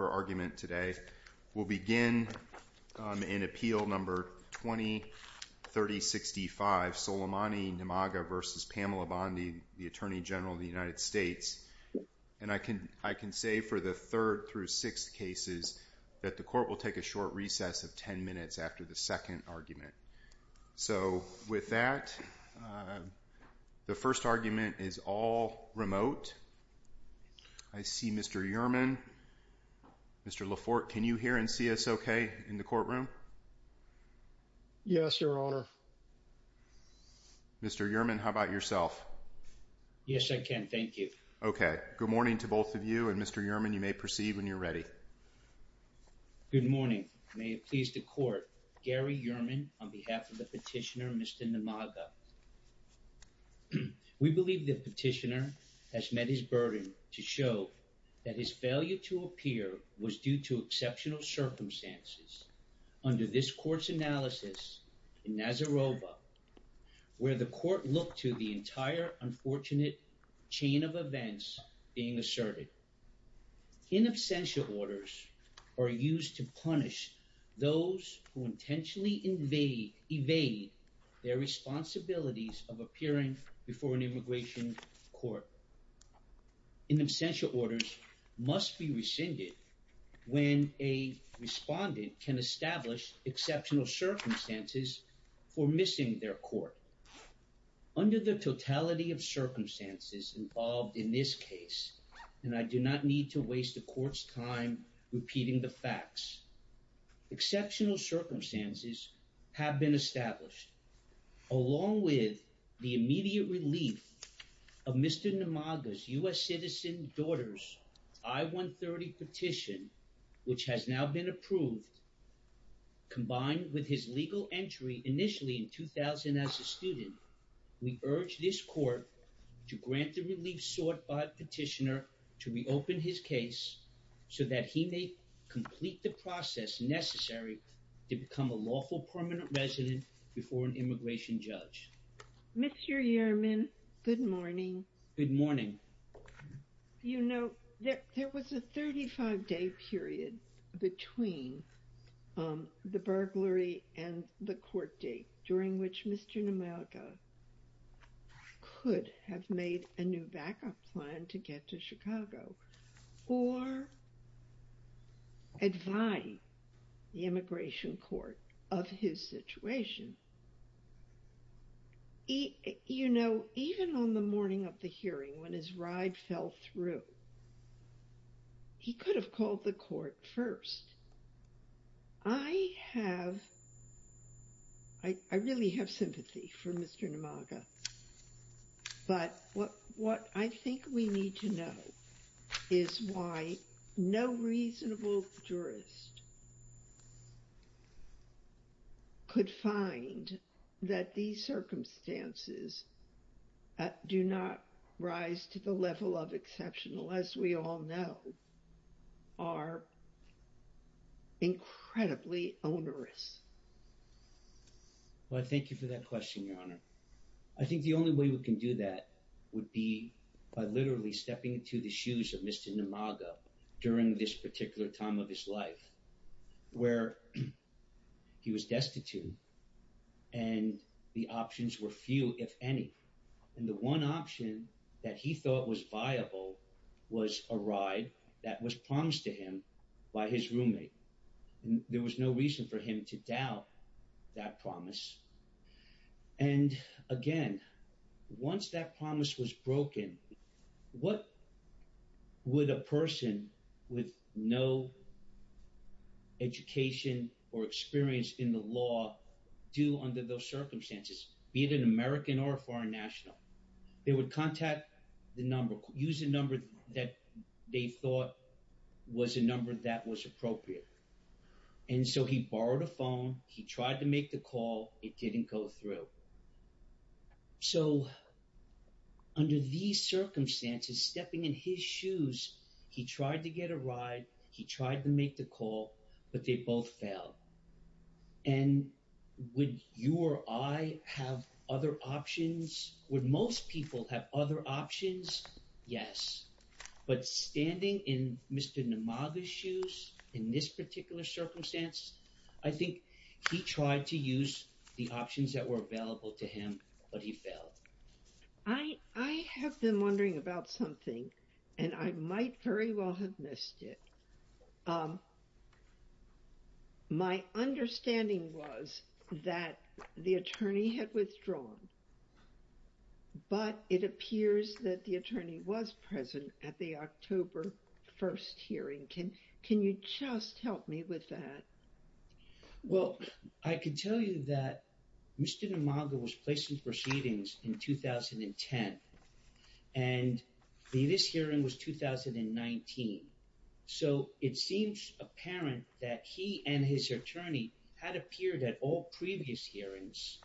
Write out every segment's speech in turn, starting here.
for argument today. We'll begin in appeal number 20-30-65, Soleimane Nimaga v. Pamela Bondi, the Attorney General of the United States. And I can say for the third through sixth cases that the court will take a short recess of ten minutes after the second argument. So with that, the first argument is all remote. I see Mr. Yerman. Mr. Laforte, can you hear and see us okay in the courtroom? Yes, Your Honor. Mr. Yerman, how about yourself? Yes, I can. Thank you. Okay. Good morning to both of you. And Mr. Yerman, you may proceed when you're ready. Good morning. May it please the court, Gary Yerman on behalf of the petitioner, Mr. Nimaga. We believe the petitioner has met his burden to show that his failure to appear was due to exceptional circumstances under this court's analysis in Nazarovo, where the court looked to the entire unfortunate chain of events being asserted. In absentia orders are used to punish those who intentionally evade their responsibilities of appearing before an immigration court. In absentia orders must be rescinded when a respondent can establish exceptional circumstances for missing their court. Under the totality of circumstances involved in this case, and I do not need to waste the court's time repeating the facts, exceptional circumstances have been established along with the immediate relief of Mr. Nimaga's citizen daughter's I-130 petition, which has now been approved combined with his legal entry initially in 2000 as a student. We urge this court to grant the relief sought by the petitioner to reopen his case so that he may complete the process necessary to become a lawful permanent resident before an immigration judge. Mr. Yearman, good morning. Good morning. You know, there was a 35-day period between the burglary and the court date during which Mr. Nimaga could have made a new backup plan to get to Chicago or advise the immigration court of his situation. You know, even on the morning of the hearing when his ride fell through, he could have called the court first. I have, I really have sympathy for Mr. Nimaga, but what I think we need to know is why no reasonable jurist could find that these circumstances do not rise to the level of exceptional, as we all know, are incredibly onerous. Well, thank you for that question, Your Honor. I think the only way we can do that would be by literally stepping into the shoes of Mr. Nimaga during this particular time of his life, where he was destitute and the options were few, if any. And the one option that he thought was viable was a ride that was promised to him by his roommate. And there was no reason for him to doubt that promise. And again, once that promise was broken, what would a person with no education or experience in the law do under those circumstances, be it an American or a foreign national? They would contact the number, use a number that they thought was a number that was appropriate. And so he borrowed a phone, he tried to make the call, it didn't go through. So under these circumstances, stepping in his shoes, he tried to get a ride, he tried to make the call, but they both fell. And would you or I have other options? Would most people have other options? Yes. But standing in Mr. Nimaga's shoes, in this particular circumstance, I think he tried to use the options that were available to him, but he failed. I have been wondering about something and I might very well have missed it. My understanding was that the attorney had withdrawn, but it appears that the attorney was present at the October 1st hearing. Can you just help me with that? Well, I can tell you that Mr. Nimaga was placing proceedings in 2010 and this hearing was 2019. So it seems apparent that he and his attorney had appeared at all previous hearings,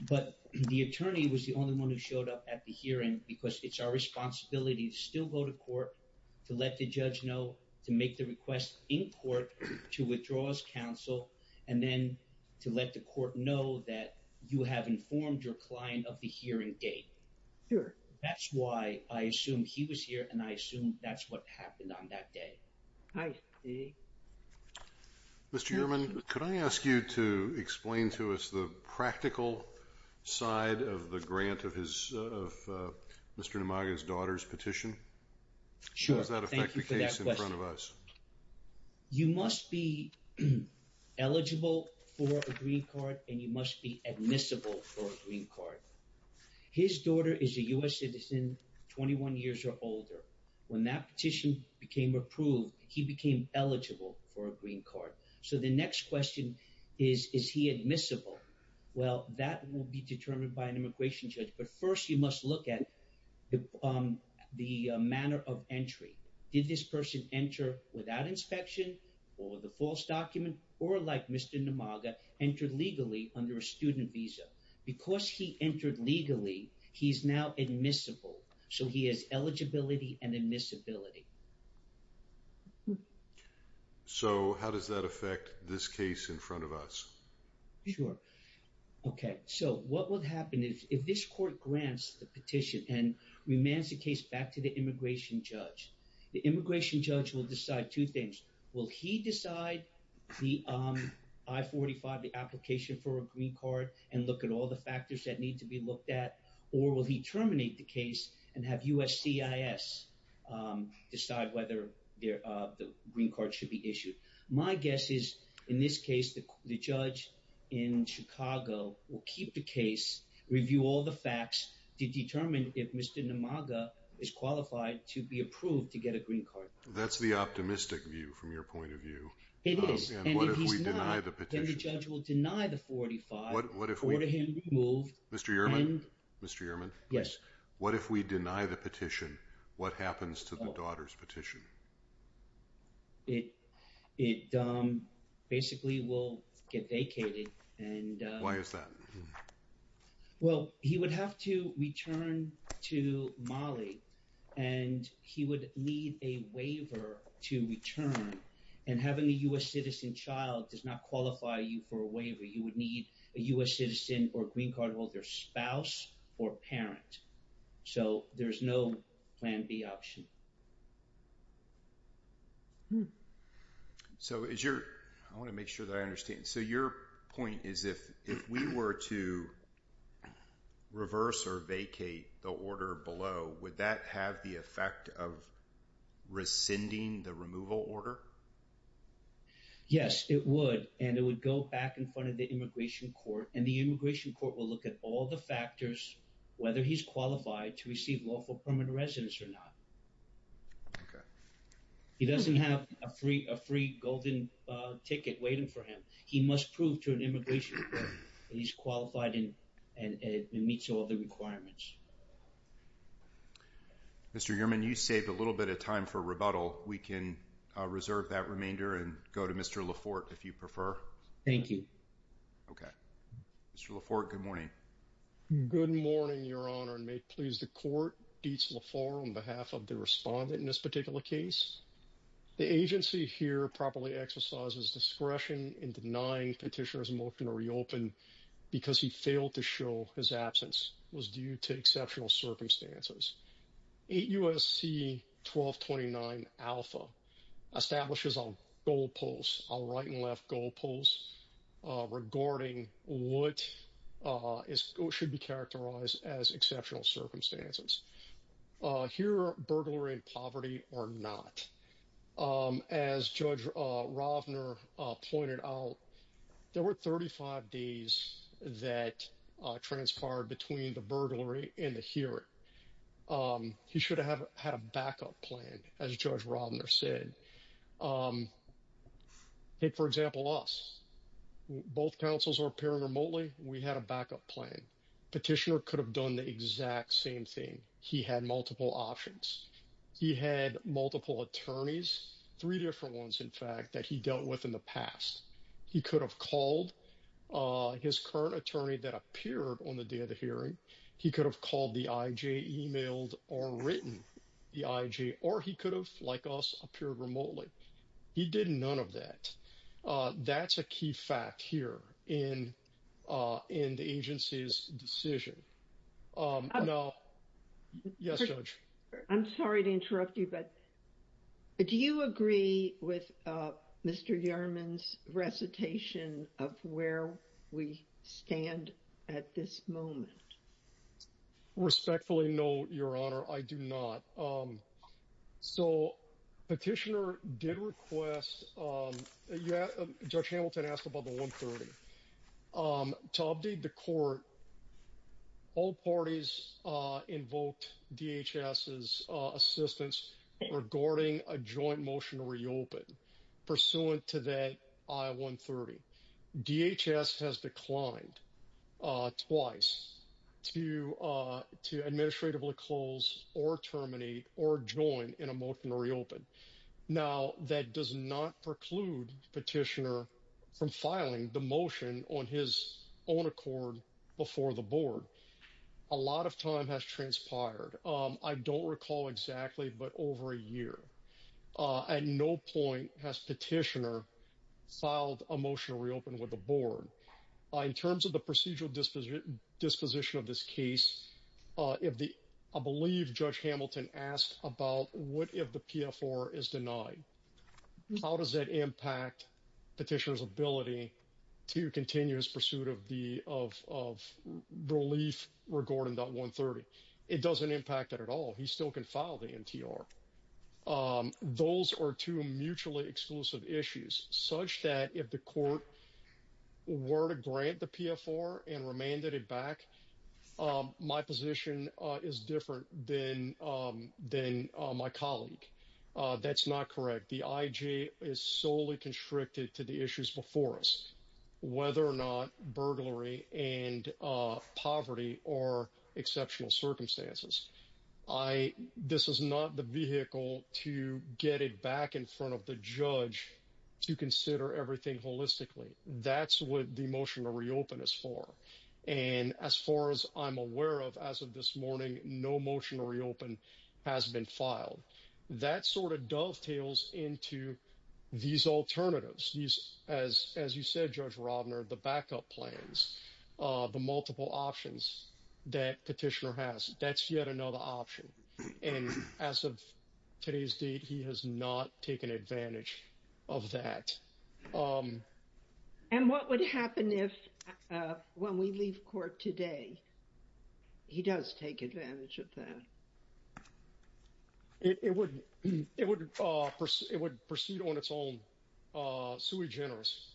but the attorney was the only one who showed up at the hearing because it's our responsibility to still go to court, to let the judge know, to make the request in court, to withdraw as counsel, and then to let the court know that you have informed your client of the hearing date. Sure. That's why I assume he was here and I assume that's what happened on that day. Mr. Ehrman, could I ask you to explain to us the practical side of the grant of Mr. Nimaga's daughter's petition? How does that affect the case in front of us? You must be eligible for a green card and you must be admissible for a green card. His daughter is a U.S. citizen 21 years or older. When that petition became approved, he became eligible for a green card. So the next question is, is he admissible? Well, that will be determined by an immigration judge, but first you must look at the manner of entry. Did this person enter without inspection or with a false document or like Mr. Nimaga entered legally under a student visa? Because he entered legally, he's now admissible. So he has eligibility and admissibility. So how does that affect this case in front of us? Sure. Okay. So what would happen is if this court grants the petition and remands the case back to immigration judge, the immigration judge will decide two things. Will he decide the I-45, the application for a green card and look at all the factors that need to be looked at? Or will he terminate the case and have USCIS decide whether the green card should be issued? My guess is in this case, the judge in Chicago will keep the case, review all the facts to determine if Mr. Nimaga is qualified to be approved to get a green card. That's the optimistic view from your point of view. It is. And if he's not, then the judge will deny the I-45, order him removed. Mr. Ehrman? Yes. What if we deny the petition? What happens to the daughter's petition? It basically will get vacated. And why is that? Well, he would have to return to Mali and he would need a waiver to return. And having a U.S. citizen child does not qualify you for a waiver. You would need a U.S. citizen or green card holder spouse or parent. So there's no plan B option. I want to make sure that I understand. So your point is, if we were to reverse or vacate the order below, would that have the effect of rescinding the removal order? Yes, it would. And it would go back in front of the immigration court. And the immigration court will look at all the factors, whether he's qualified to receive lawful permanent residence or not. He doesn't have a free golden ticket waiting for him. He must prove to an immigration court that he's qualified and meets all the requirements. Mr. Ehrman, you saved a little bit of time for rebuttal. We can reserve that remainder and go to Mr. Laforte, if you prefer. Thank you. Okay. Mr. Laforte, good morning. Good morning, Your Honor. And may it please the court, Dietz Laforte on behalf of the respondent in this particular case. The agency here properly exercises discretion in denying petitioner's motion to reopen because he failed to show his absence. It was due to exceptional circumstances. 8 U.S.C. 1229 alpha establishes a goalpost, a right and left goalpost, regarding what should be characterized as exceptional circumstances. Here, burglary and poverty are not. As Judge Rovner pointed out, there were 35 days that transpired between the burglary and the hearing. He should have had a backup plan, as Judge Rovner said. Take, for example, us. Both counsels are appearing remotely. We had a backup plan. Petitioner could have done the exact same thing. He had multiple options. He had multiple attorneys, three different ones, in fact, that he dealt with in the past. He could have called his current attorney that appeared on the day of the hearing. He could have called the I.J., emailed or written the I.J. or he could have, like us, appeared remotely. He did none of that. That's a key fact here in the agency's decision. Yes, Judge. I'm sorry to interrupt you, but do you agree with Mr. Yerman's recitation of where we stand at this moment? I respectfully note, Your Honor, I do not. So, Petitioner did request, Judge Hamilton asked about the 130. To update the court, all parties invoked DHS's assistance regarding a joint motion to reopen pursuant to that I-130. DHS has declined twice to administratively close or terminate or join in a motion to reopen. Now, that does not preclude Petitioner from filing the motion on his own accord before the board. A lot of time has transpired. I don't recall exactly, but over a year. At no point has Petitioner filed a motion to reopen with the board. In terms of the procedural disposition of this case, I believe Judge Hamilton asked about what if the PFR is denied. How does that impact Petitioner's ability to continue his pursuit of of relief regarding that 130? It doesn't impact it at all. He still can file the NTR. Those are two mutually exclusive issues, such that if the court were to grant the PFR and remanded it back, my position is different than my colleague. That's not correct. The IJ is solely constricted to the issues before us, whether or not burglary and poverty are exceptional circumstances. This is not the vehicle to get it back in front of the judge to consider everything holistically. That's what the motion to reopen is for. And as far as I'm aware of, as of this morning, no motion to reopen has been filed. That sort of dovetails into these alternatives. As you said, Judge Robner, the backup plans, the multiple options that Petitioner has, that's yet another option. And as of today's date, he has not taken advantage of that. And what would happen if, when we leave court today, he does take advantage of that? It would proceed on its own. Sui generis,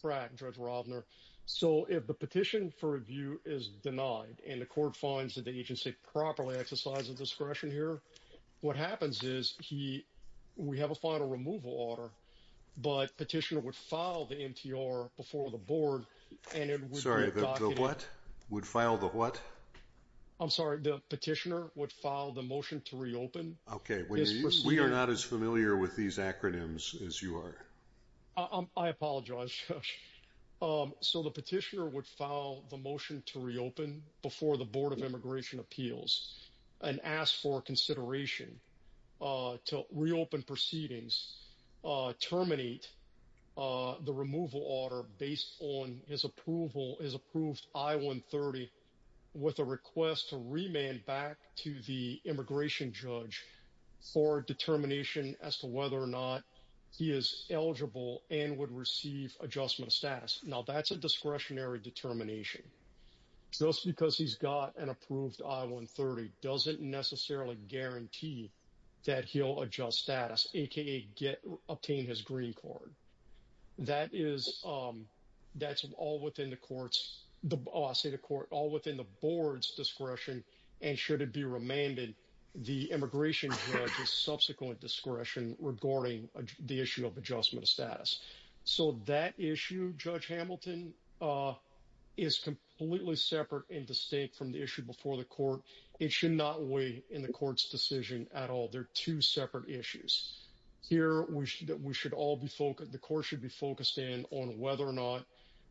Brad, Judge Robner. So if the petition for review is denied and the court finds that the agency properly exercises discretion here, what happens is we have a final removal order, but Petitioner would file the NTR before the board. Sorry, the what? Would file the what? I'm sorry, the Petitioner would file the motion to reopen. Okay. We are not as familiar with these acronyms as you are. I apologize, Judge. So the Petitioner would file the motion to reopen before the Board of Immigration Appeals and ask for consideration to reopen proceedings, terminate the removal order based on his approval, his approved I-130, with a request to remand back to the immigration judge for determination as to whether or not he is eligible and would receive adjustment status. Now, that's a discretionary determination. Just because he's got an approved I-130 doesn't necessarily guarantee that he'll adjust status, aka obtain his green card. That is all within the board's discretion, and should it be remanded, the immigration judge's subsequent discretion regarding the issue of adjustment status. So that issue, Judge Hamilton, is completely separate and distinct from the issue before the court. It should not weigh in the court's decision at all. They're two separate issues. Here, the court should be focused in on whether or not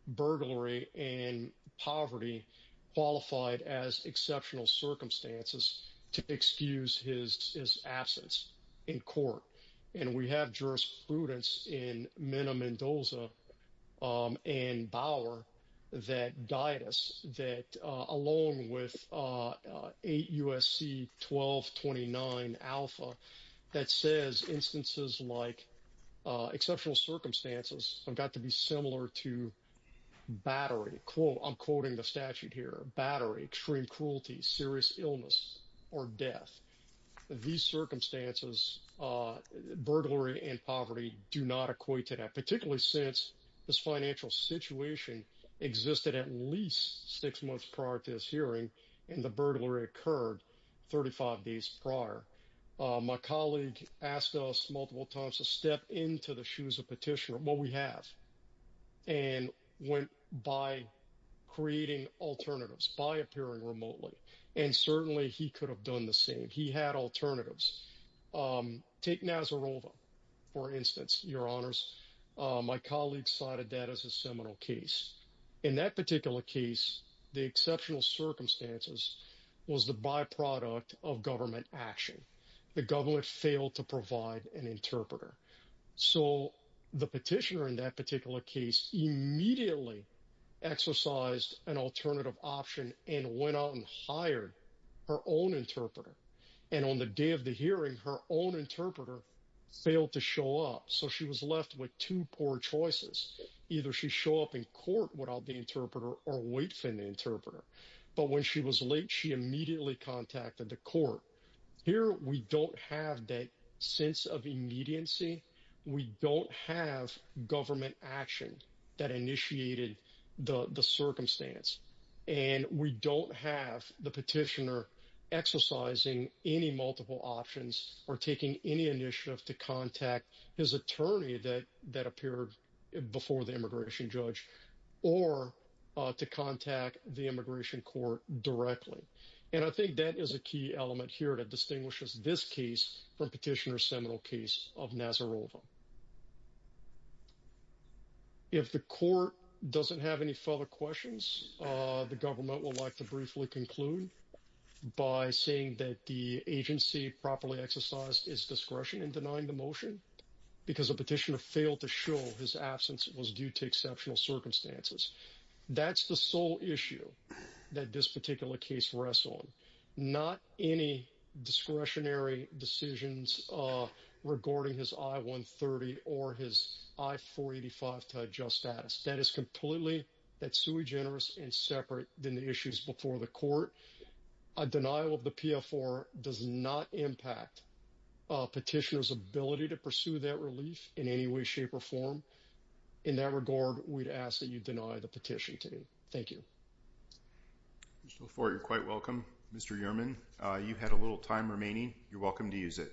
burglary and poverty qualified as exceptional circumstances to excuse his absence in court. And we have jurisprudence in Mena Mendoza and Bauer that guide us, that along with 8 U.S.C. 1229 alpha, that says instances like exceptional circumstances have got to be similar to battery. I'm quoting the statute here. Battery, extreme cruelty, serious illness, or death. These circumstances, burglary and poverty, do not equate to that, particularly since this financial situation existed at least six months prior to this hearing, and the burglary occurred 35 days prior. My colleague asked us multiple times to step into the shoes of petitioner what we have, and went by creating alternatives, by appearing remotely. And certainly he could have done the same. He had alternatives. Take Nazarova, for instance, Your Honors. My colleague cited that as a seminal case. In that particular case, the exceptional circumstances was the byproduct of government action. The government failed to provide an interpreter. So the petitioner in that particular case immediately exercised an alternative option and went out and hired her own interpreter. And on the day of the hearing, her own interpreter failed to show up. So she was left with two poor choices. Either she show up in court without the interpreter, or wait for the interpreter. But when she was late, she immediately contacted the court. Here, we don't have that sense of immediacy. We don't have government action that initiated the circumstance. And we don't have the petitioner exercising any multiple options or taking any initiative to contact his attorney that appeared before the immigration judge, or to contact the immigration court directly. And I think that is a key element here that distinguishes this case from Petitioner's seminal case of Nazarova. If the court doesn't have any further questions, the government would like to briefly conclude by saying that the agency properly exercised its discretion in denying the motion, because the petitioner failed to show his absence was due to exceptional circumstances. That's the sole issue that this particular case rests on. Not any discretionary decisions regarding his I-130 or his I-485 to adjust status. That is completely that's sui generis and separate than the issues before the court. A denial of the PFR does not impact petitioner's ability to pursue that relief in any way, shape or form. In that regard, we'd ask that you deny the petition to me. Thank you. Mr. Lafort, you're quite welcome. Mr. Yerman, you've had a little time remaining. You're welcome to use it.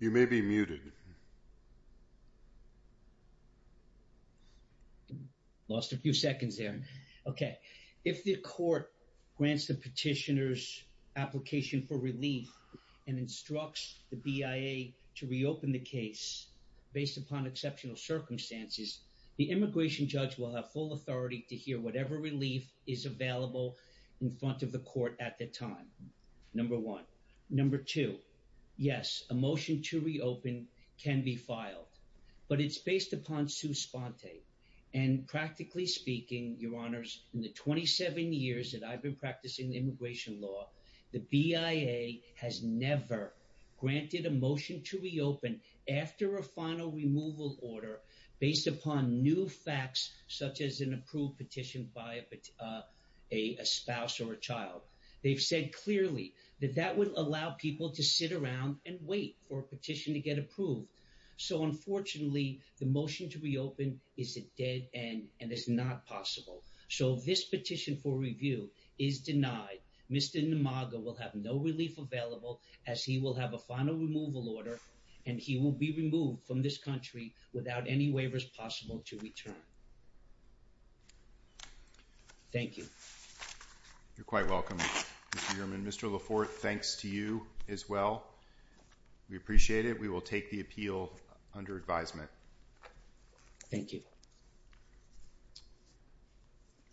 You may be muted. Lost a few seconds there. Okay. If the court grants the petitioner's application for relief and instructs the BIA to reopen the case based upon exceptional circumstances, the immigration judge will have full authority to hear whatever relief is available in front of the court at the time. Number one. Number two, yes, a motion to reopen can be filed, but it's based upon Sue Sponte. And practically speaking, your honors, in the 27 years that I've been practicing immigration law, the BIA has never granted a motion to reopen after a final removal order based upon new facts, such as an approved petition by a spouse or a child. They've said clearly that that would allow people to sit around and wait for a petition to get approved. So unfortunately, the motion to reopen is a dead end and it's not possible. So this petition for review is denied. Mr. Namaga will have no relief available as he will have a final removal order and he will be removed from this country without any waivers possible to return. Thank you. You're quite welcome, Mr. Yerman. Mr. Laforte, thanks to you as well. We appreciate it. We will take the appeal under advisement. Thank you.